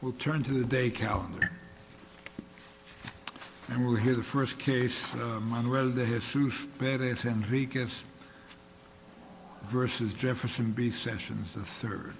We'll turn to the day calendar and we'll hear the first case, Manuel de Jesus Perez Henriquez v. Jefferson B. Sessions III.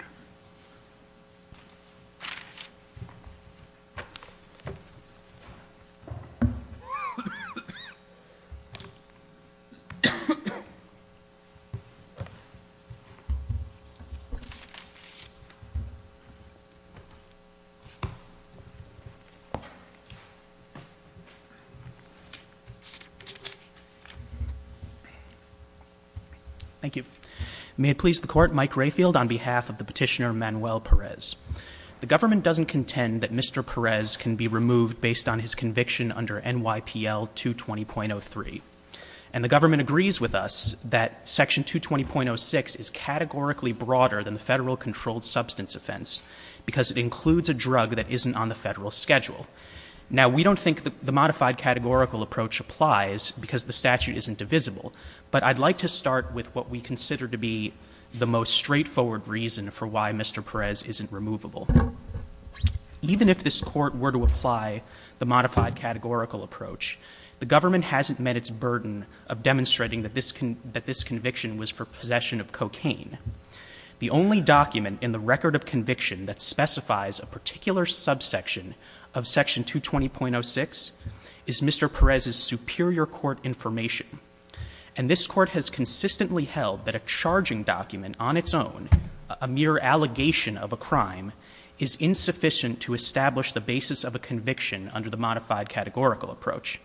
Thank you. May it please the Court, Mike Rayfield on behalf of the petitioner Manuel Perez. The government doesn't contend that Mr. Perez can be removed based on his conviction under NYPL 220.03. And the government agrees with us that section 220.06 is categorically broader than the federal controlled substance offense because it includes a drug that isn't on the federal schedule. Now, we don't think that the modified categorical approach applies because the statute isn't divisible. But I'd like to start with what we consider to be the most straightforward reason for why Mr. Perez isn't removable. Even if this court were to apply the modified categorical approach, the government hasn't met its burden of demonstrating that this conviction was for possession of cocaine. The only document in the record of conviction that specifies a particular subsection of section 220.06 is Mr. Perez's superior court information. And this court has consistently held that a charging document on its own, a mere allegation of a crime, is insufficient to establish the basis of a conviction under the modified categorical approach.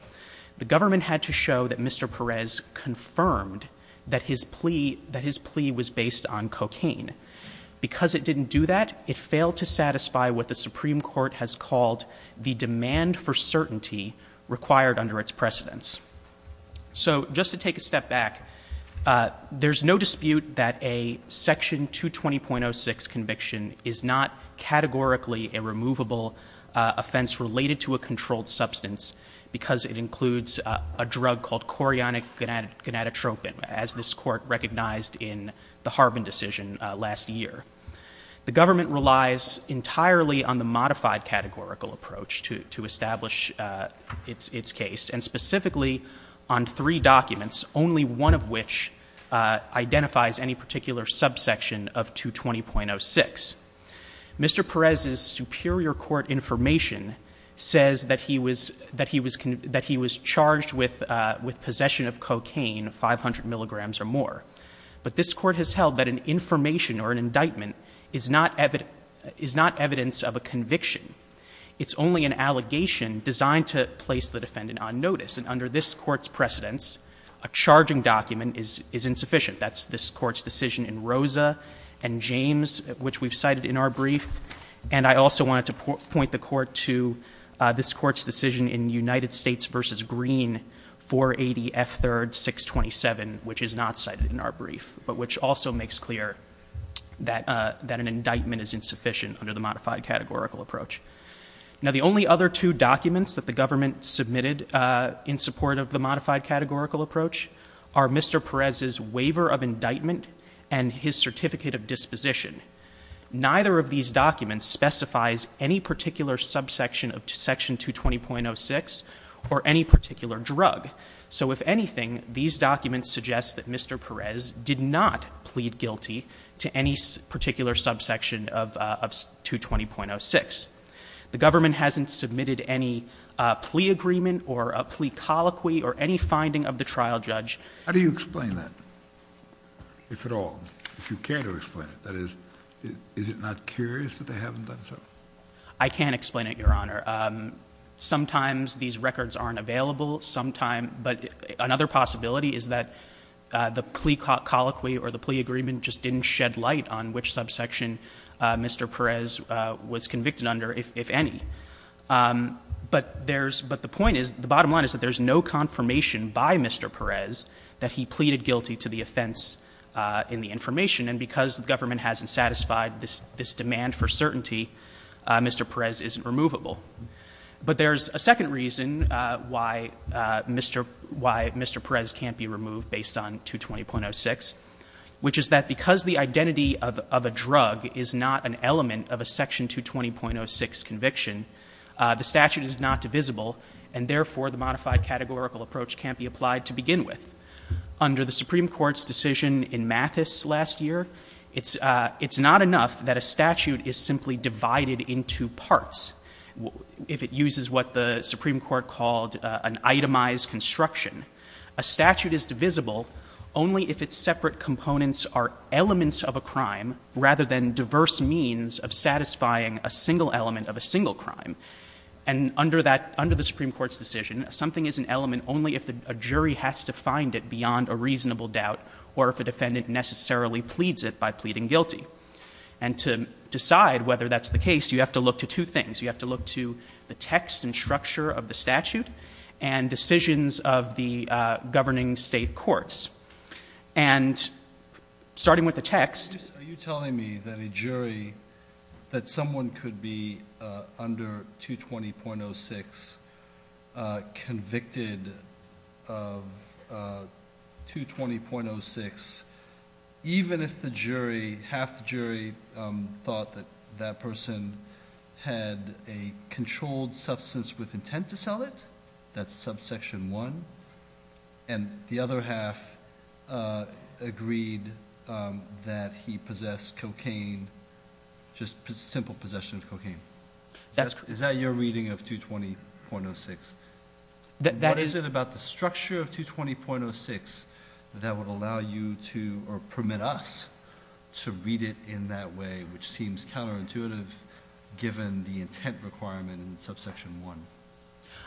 The government had to show that Mr. Perez confirmed that his plea, that his plea was based on cocaine. Because it didn't do that, it failed to satisfy what the Supreme Court has called the demand for certainty required under its precedence. So, just to take a step back, there's no dispute that a section 220.06 conviction is not categorically a removable offense related to a controlled substance because it includes a drug called chorionic gonadotropin, as this court recognized in the Harbin decision last year. The government relies entirely on the modified categorical approach to establish its case, and specifically on three documents, only one of which identifies any particular subsection of 220.06. Mr. Perez's superior court information says that he would say that he was charged with possession of cocaine, 500 milligrams or more. But this court has held that an information or an indictment is not evidence of a conviction. It's only an allegation designed to place the defendant on notice. And under this court's precedence, a charging document is insufficient. That's this Court's decision in Rosa and James, which we've cited in our brief. And I also wanted to point the Court to this Court's decision in United States v. Green, 480 F. 3rd. 627, which is not cited in our brief, but which also makes clear that an indictment is insufficient under the modified categorical approach. Now, the only other two documents that the government submitted in support of the modified categorical approach are Mr. Perez's waiver of indictment and his certificate of disposition. Neither of these documents specifies any particular subsection of section 220.06 or any particular drug. So if anything, these documents suggest that Mr. Perez did not plead guilty to any particular subsection of 220.06. The government hasn't submitted any plea agreement or a plea colloquy or any finding of the trial judge. How do you explain that, if at all, if you care to explain it? That is, is it not curious that they haven't done so? I can explain it, Your Honor. Sometimes these records aren't available. Sometimes — but another possibility is that the plea colloquy or the plea agreement just didn't shed light on which subsection Mr. Perez was convicted under, if any. But there's — the bottom line is that there's no confirmation by Mr. Perez that he pleaded guilty to the offense in the information. And because the government hasn't satisfied this demand for certainty, Mr. Perez isn't removable. But there's a second reason why Mr. Perez can't be removed based on 220.06, which is that because the identity of a drug is not an element of a section 220.06 conviction, the statute is not divisible, and therefore the modified categorical approach can't be applied to begin with. Under the Supreme Court's decision in Mathis last year, it's not enough that a statute is simply divided into parts, if it uses what the Supreme Court called an itemized construction. A statute is divisible only if its separate components are elements of a crime rather than diverse means of satisfying a single element of a single crime. And under that — under the Supreme Court's decision, something is an element only if a jury has to find it beyond a reasonable doubt or if a defendant necessarily pleads it by pleading guilty. And to decide whether that's the case, you have to look to two things. You have to look to the text and structure of the statute and decisions of the governing state courts. And, starting with the text — Are you telling me that a jury — that someone could be under 220.06 convicted of 220.06 even if the jury — half the jury thought that that person had a controlled substance with intent to sell it — that's subsection 1 — and the other half agreed that he possessed cocaine — just simple possession of cocaine? Is that your reading of 220.06? That is — What is it about the structure of 220.06 that would allow you to — or permit us to read it in that way, which seems counterintuitive given the intent requirement in subsection 1?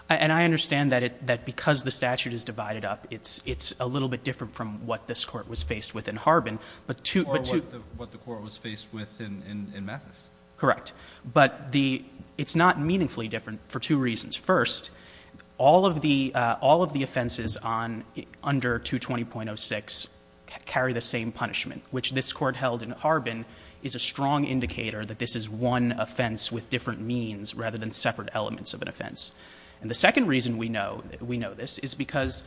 And I understand that it — that because the statute is divided up, it's — it's a little bit different from what this Court was faced with in Harbin, but two — Or what the — what the Court was faced with in — in Mathis. Correct. But the — it's not meaningfully different for two reasons. First, all of the — all of the offenses on — under 220.06 carry the same punishment, which this Court held in Harbin is a strong indicator that this is one offense with different means rather than separate elements of an offense. And the second reason we know — we know this is because,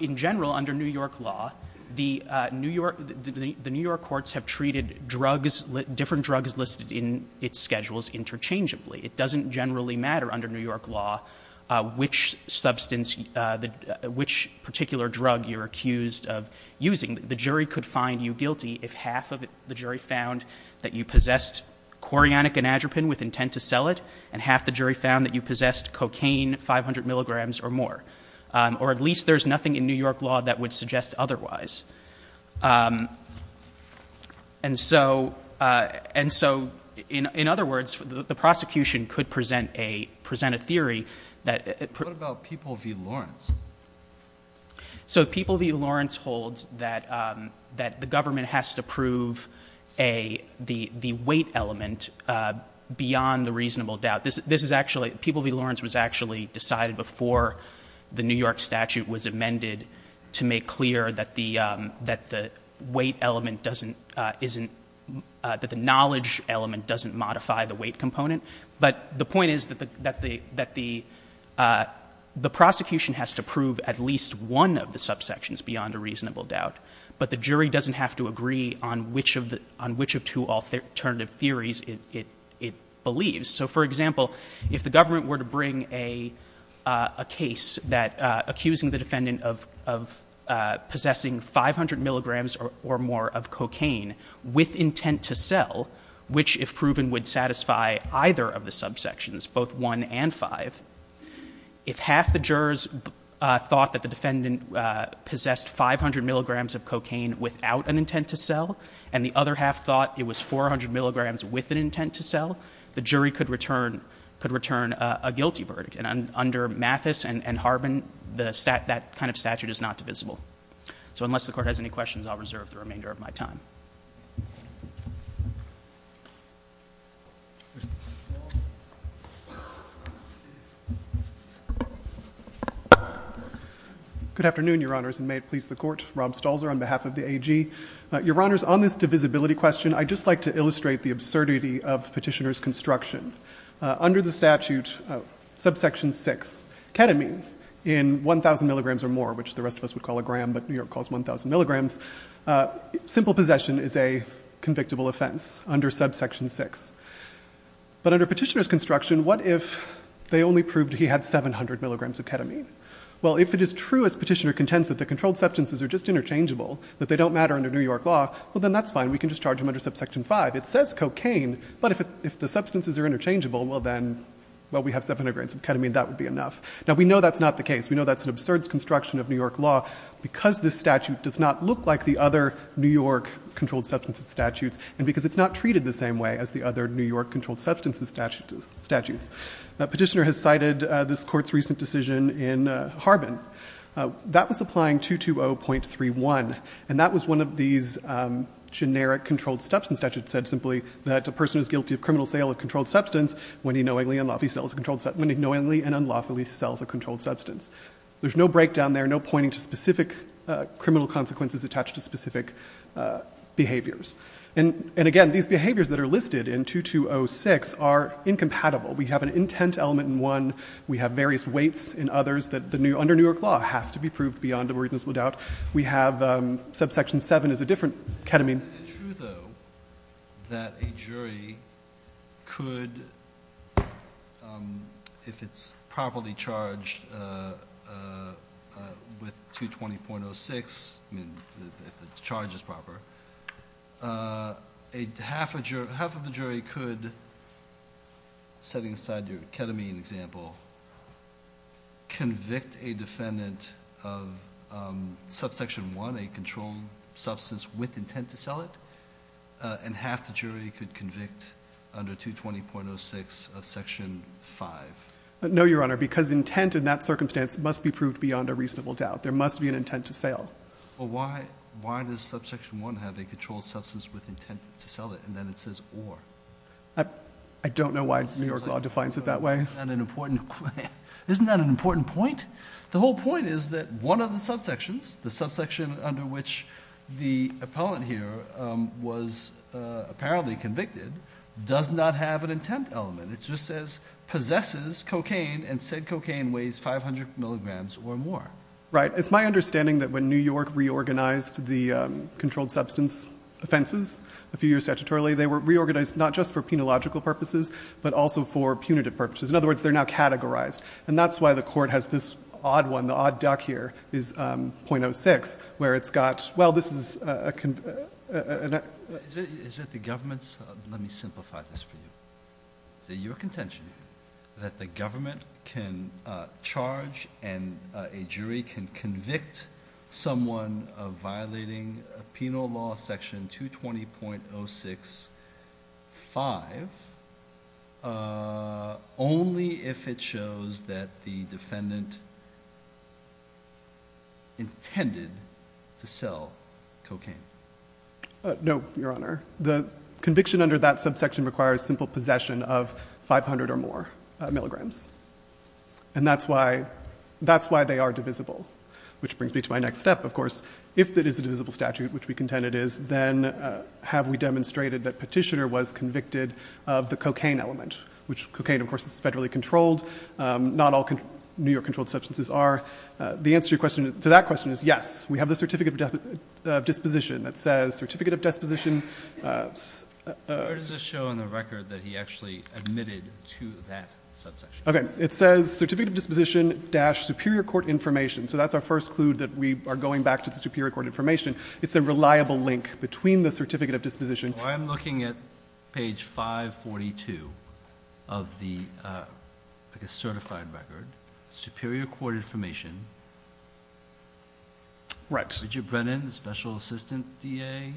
in general, under New York law, the New York — the New York courts have treated drugs — different drugs listed in its schedules interchangeably. It doesn't generally matter under New York law which substance — which particular drug you're accused of using. The jury could find you — half of the jury found that you possessed chorionic anadropin with intent to sell it, and half the jury found that you possessed cocaine, 500 milligrams or more. Or at least there's nothing in New York law that would suggest otherwise. And so — and so, in other words, the prosecution could present a — present a theory that — What about People v. Lawrence? So People v. Lawrence holds that — that the government has to prove a — the — the weight element beyond the reasonable doubt. This — this is actually — People v. Lawrence was actually decided before the New York statute was amended to make clear that the — that the weight element doesn't — isn't — that the knowledge element doesn't modify the weight to prove at least one of the subsections beyond a reasonable doubt. But the jury doesn't have to agree on which of the — on which of two alternative theories it — it — it believes. So, for example, if the government were to bring a — a case that — accusing the defendant of — of possessing 500 milligrams or more of cocaine with intent to sell, which if proven would satisfy either of the subsections, both 1 and 5, if half the jurors thought that the defendant possessed 500 milligrams of cocaine without an intent to sell and the other half thought it was 400 milligrams with an intent to sell, the jury could return — could return a guilty verdict. And under Mathis and — and Harbin, the — that kind of statute is not divisible. So unless the Court has any questions, I'll reserve the remainder of my time. MR. STOLZER. Good afternoon, Your Honors, and may it please the Court. Rob Stolzer on behalf of the AG. Your Honors, on this divisibility question, I'd just like to illustrate the absurdity of Petitioner's construction. Under the statute subsection 6, ketamine in 1,000 milligrams or more, which the rest of us would call a possession, is a convictable offense under subsection 6. But under Petitioner's construction, what if they only proved he had 700 milligrams of ketamine? Well, if it is true, as Petitioner contends, that the controlled substances are just interchangeable, that they don't matter under New York law, well, then that's fine. We can just charge him under subsection 5. It says cocaine, but if it — if the substances are interchangeable, well, then — well, we have 700 milligrams of ketamine. That would be enough. Now, we know that's not the case. We know that's an absurd construction of New York law because this statute does not look like the other New York controlled substances statutes, and because it's not treated the same way as the other New York controlled substances statutes. Petitioner has cited this Court's recent decision in Harbin. That was applying 220.31, and that was one of these generic controlled substances statutes that said simply that a person who is guilty of criminal sale of controlled substance, when he knowingly and unlawfully sells a controlled — when he knowingly and unlawfully sells a controlled substance. There's no breakdown there, no pointing to specific criminal consequences attached to specific behaviors. And, again, these behaviors that are listed in 2206 are incompatible. We have an intent element in one. We have various weights in others that the — under New York law has to be proved beyond a reasonable doubt. We have subsection 7 is a different ketamine. Is it true, though, that a jury could, if it's properly charged with 220.06, I mean, if the charge is proper, half of the jury could, setting aside your ketamine example, convict a defendant of subsection 1, a controlled substance, with intent to sell it, and half the jury could convict under 220.06 of section 5? No, Your Honor, because intent in that circumstance must be proved beyond a reasonable doubt. There must be an intent to sale. Well, why does subsection 1 have a controlled substance with intent to sell it, and then it says or? I don't know why New York law defines it that way. Isn't that an important — isn't that an important point? The whole point is that one of the subsections, the subsection under which the appellant here was apparently convicted, does not have an intent element. It just says possesses cocaine, and said cocaine weighs 500 milligrams or more. Right. It's my understanding that when New York reorganized the controlled substance offenses, a few years statutorily, they were reorganized not just for penological purposes, but also for punitive purposes. In other words, they're now categorized. And that's why the court has this odd one, the odd duck here, is .06, where it's got — well, this is — Is it the government's — let me simplify this for you. Is it your contention that the government can charge, and a jury can convict someone of violating penal law section 220.065 only if it shows that the defendant intended to sell cocaine? No, Your Honor. The conviction under that subsection requires simple possession of 500 or more milligrams. And that's why — that's why they are divisible, which brings me to my next step, of course. If it is a divisible statute, which we contend it is, then have we demonstrated that Petitioner was convicted of the cocaine element, which cocaine, of course, is federally controlled. Not all New York controlled substances are. The answer to your question — to that question is yes. We have the Certificate of Disposition that says Certificate of Disposition — Where does it show on the record that he actually admitted to that subsection? Okay. It says Certificate of Disposition dash Superior Court Information. So that's our first clue that we are going back to the Superior Court Information. It's a reliable link between the Certificate of Disposition — I'm looking at page 542 of the, I guess, certified record. Superior Court Information. Right. Richard Brennan, the special assistant DA,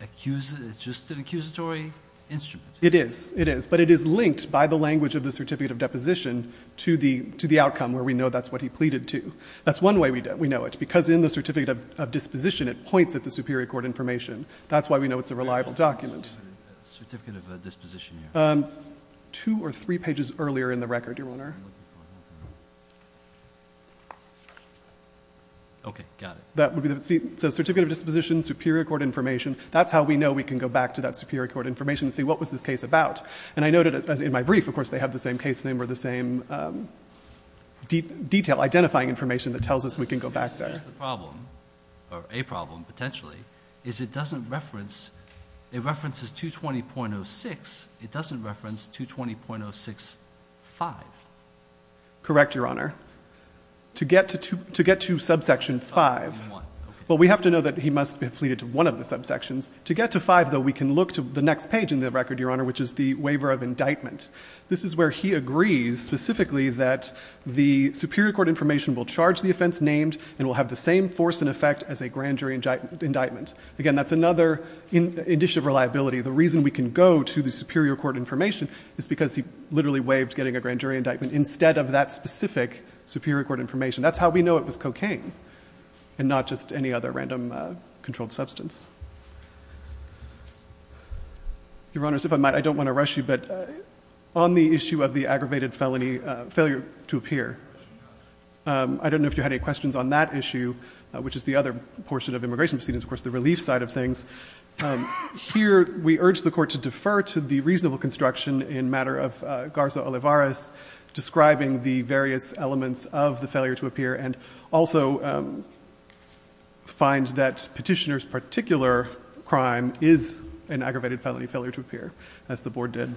accuses — it's just an accusatory instrument. It is. It is. But it is linked by the language of the Certificate of Deposition to the — to the outcome where we know that's what he pleaded to. That's one way we know it, because in the Certificate of Disposition it points at the Superior Court Information. That's why we know it's a reliable document. Where does it say Certificate of Disposition? Two or three pages earlier in the record, Your Honor. Okay. Got it. That would be the — see, it says Certificate of Disposition, Superior Court Information. That's how we know we can go back to that Superior Court Information and see what was this case about. And I noted in my brief, of course, they have the same case name or the same detail, identifying information that tells us we can go back there. The problem, or a problem potentially, is it doesn't reference — it references 220.06. It doesn't reference 220.06.5. Correct, Your Honor. To get to subsection 5 — Oh, 1. Okay. — well, we have to know that he must have pleaded to one of the subsections. To get to 5, though, we can look to the next page in the record, Your Honor, which is the waiver of indictment. This is where he agrees specifically that the Superior Court Information will charge the offense named and will have the same force and effect as a grand jury indictment. Again, that's another initiative reliability. The reason we can go to the Superior Court Information is because he literally waived getting a grand jury indictment instead of that specific Superior Court Information. That's how we know it was cocaine and not just any other random controlled substance. Your Honors, if I might, I don't want to rush you, but on the issue of the aggravated felony failure to appear, I don't know if you had any questions on that issue, which is the other portion of immigration proceedings, of course, the relief side of things. Here, we urge the Court to defer to the reasonable construction in matter of Garza-Olivares describing the various elements of the failure to appear and also find that petitioner's particular crime is an aggravated felony failure to appear, as the Board did.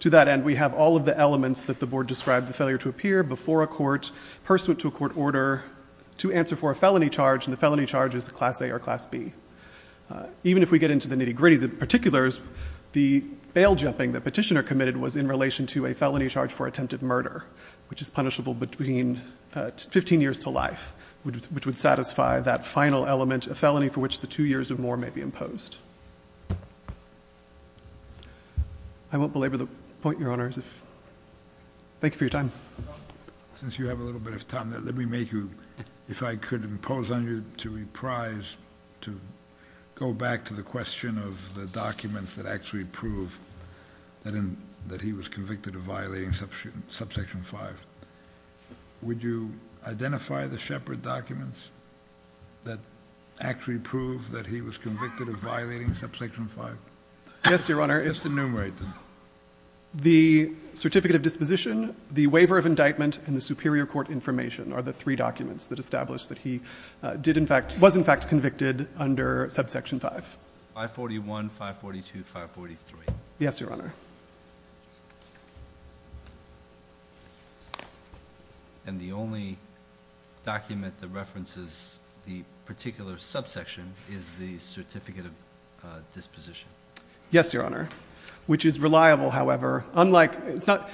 To that end, we have all of the elements that the Board described, the failure to appear before a court, pursuant to a court order, to answer for a felony charge, and the felony charge is a Class A or Class B. Even if we get into the nitty-gritty, the particulars, the bail-jumping the petitioner committed was in relation to a felony charge for attempted murder, which is punishable between 15 years to life, which would satisfy that final element, and a felony for which the two years or more may be imposed. I won't belabor the point, Your Honors. Thank you for your time. Since you have a little bit of time, let me make you, if I could impose on you to reprise, to go back to the question of the documents that actually prove that he was convicted of violating Subsection 5. Would you identify the Shepherd documents that actually prove that he was convicted of violating Subsection 5? Yes, Your Honor. Just enumerate them. The Certificate of Disposition, the Waiver of Indictment, and the Superior Court Information are the three documents that establish that he did, in fact, was, in fact, convicted under Subsection 5. 541, 542, 543. Yes, Your Honor. And the only document that references the particular subsection is the Certificate of Disposition? Yes, Your Honor, which is reliable, however. Unlike, it's not,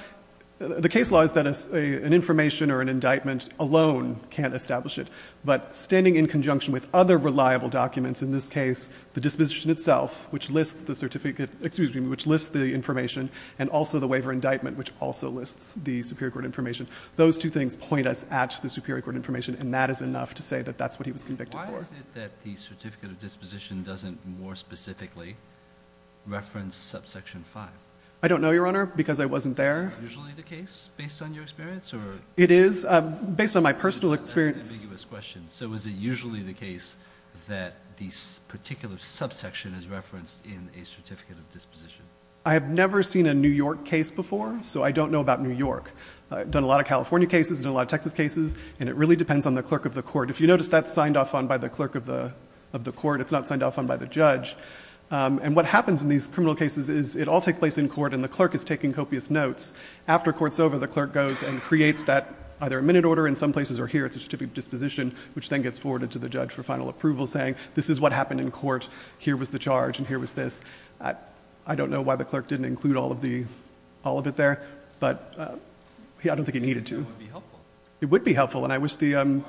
the case law is that an information or an indictment alone can't establish it, but standing in conjunction with other reliable documents, in this case, the disposition itself, which lists the certificate, excuse me, which lists the information, and also the Waiver of Indictment, which also lists the Superior Court Information, those two things point us at the Superior Court Information, and that is enough to say that that's what he was convicted for. Why is it that the Certificate of Disposition doesn't more specifically reference Subsection 5? I don't know, Your Honor, because I wasn't there. Is that usually the case, based on your experience? It is, based on my personal experience. That's an ambiguous question. So is it usually the case that this particular subsection is referenced in a Certificate of Disposition? I have never seen a New York case before, so I don't know about New York. I've done a lot of California cases and a lot of Texas cases, and it really depends on the clerk of the court. If you notice, that's signed off on by the clerk of the court. It's not signed off on by the judge. And what happens in these criminal cases is it all takes place in court, and the clerk is taking copious notes. After court's over, the clerk goes and creates that, either a minute order in some places, or here, it's a Certificate of Disposition, which then gets forwarded to the judge for final approval, saying, this is what happened in court, here was the charge, and here was this. I don't know why the clerk didn't include all of it there, but I don't think he needed to. It would be helpful. It would be helpful. Why would it be helpful?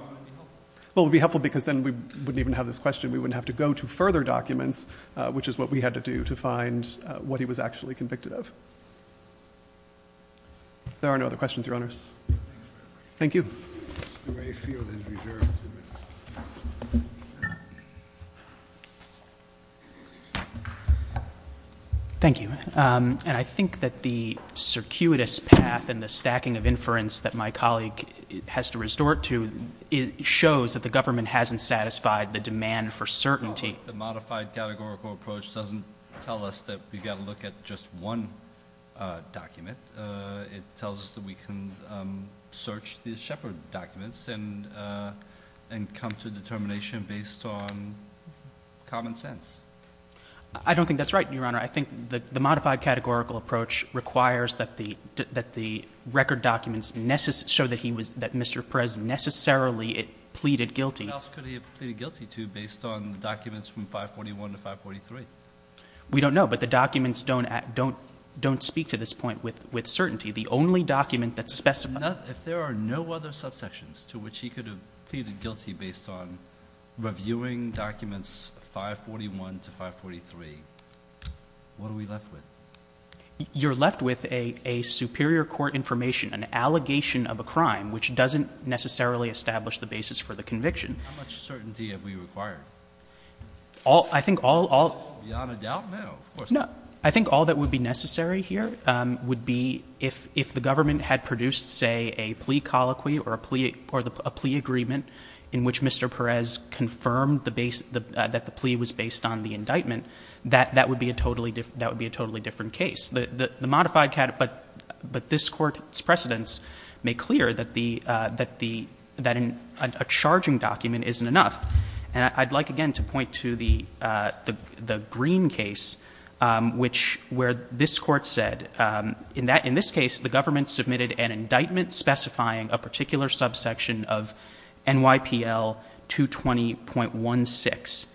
Well, it would be helpful because then we wouldn't even have this question. We wouldn't have to go to further documents, which is what we had to do to find what he was actually convicted of. There are no other questions, Your Honors. Thank you. Thank you. And I think that the circuitous path and the stacking of inference that my colleague has to resort to shows that the government hasn't satisfied the demand for certainty. The modified categorical approach doesn't tell us that we've got to look at just one document. It tells us that we can search the Sheppard documents and come to determination based on common sense. I don't think that's right, Your Honor. I think the modified categorical approach requires that the record documents show that Mr. Perez necessarily pleaded guilty. What else could he have pleaded guilty to based on documents from 541 to 543? We don't know, but the documents don't speak to this point with certainty. The only document that specifies... If there are no other subsections to which he could have pleaded guilty based on reviewing documents 541 to 543, what are we left with? You're left with a superior court information, an allegation of a crime, which doesn't necessarily establish the basis for the conviction. How much certainty have we required? Beyond a doubt, no. I think all that would be necessary here would be if the government had produced, say, a plea colloquy or a plea agreement in which Mr. Perez confirmed that the plea was based on the indictment, that would be a totally different case. But this Court's precedents make clear that a charging document isn't enough. And I'd like, again, to point to the Greene case, where this Court said, in this case, the government submitted an indictment specifying a particular subsection of NYPL 220.16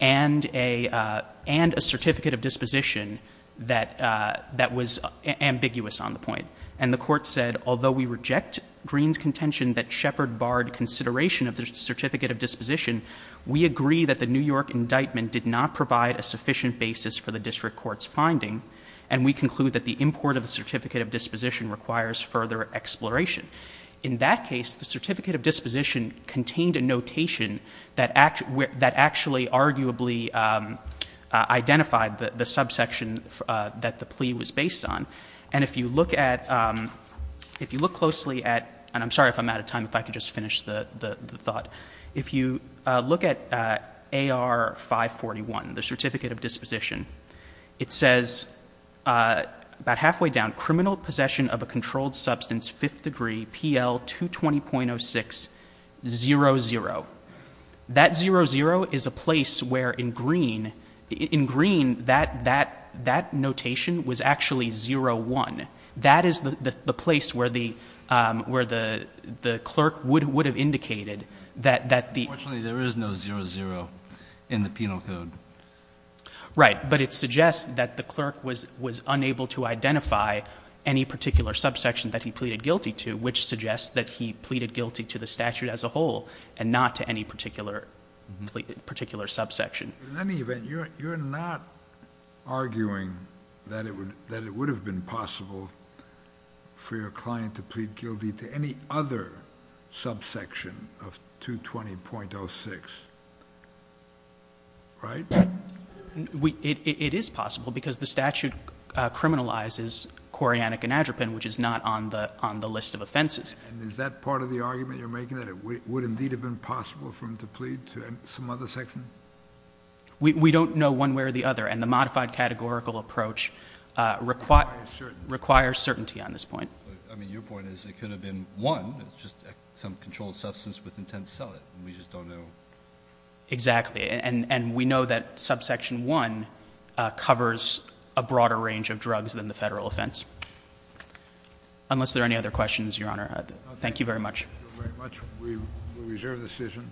and a certificate of disposition that was ambiguous on the point. And the Court said, although we reject Greene's contention that Shepherd consideration of the certificate of disposition, we agree that the New York indictment did not provide a sufficient basis for the district court's finding and we conclude that the import of the certificate of disposition requires further exploration. In that case, the certificate of disposition contained a notation that actually arguably identified the subsection that the plea was based on. And if you look at, if you look closely at, and I'm sorry if I'm out of time, if I could just finish the thought, if you look at AR 541, the certificate of disposition, it says about halfway down, criminal possession of a controlled substance, 5th degree, PL 220.06, 00. That 00 is a place where in Greene, in Greene, that notation was actually 01. That is the place where the clerk would have indicated that the... Unfortunately, there is no 00 in the penal code. Right. But it suggests that the clerk was unable to identify any particular subsection that he pleaded guilty to, which suggests that he pleaded guilty to the statute as a whole and not to any particular subsection. In any event, you're not arguing that it would have been possible for your client to plead guilty to any other subsection of 220.06, right? It is possible because the statute criminalizes chorionic and adropin, which is not on the list of offenses. And is that part of the argument you're making, that it would indeed have been possible for him to plead to some other section? We don't know one way or the other. And the modified categorical approach requires certainty on this point. I mean, your point is it could have been one. It's just some controlled substance with intent to sell it. We just don't know. Exactly. And we know that subsection 1 covers a broader range of drugs than the federal offense. Unless there are any other questions, Your Honor. Thank you very much. Thank you very much. We reserve the decision.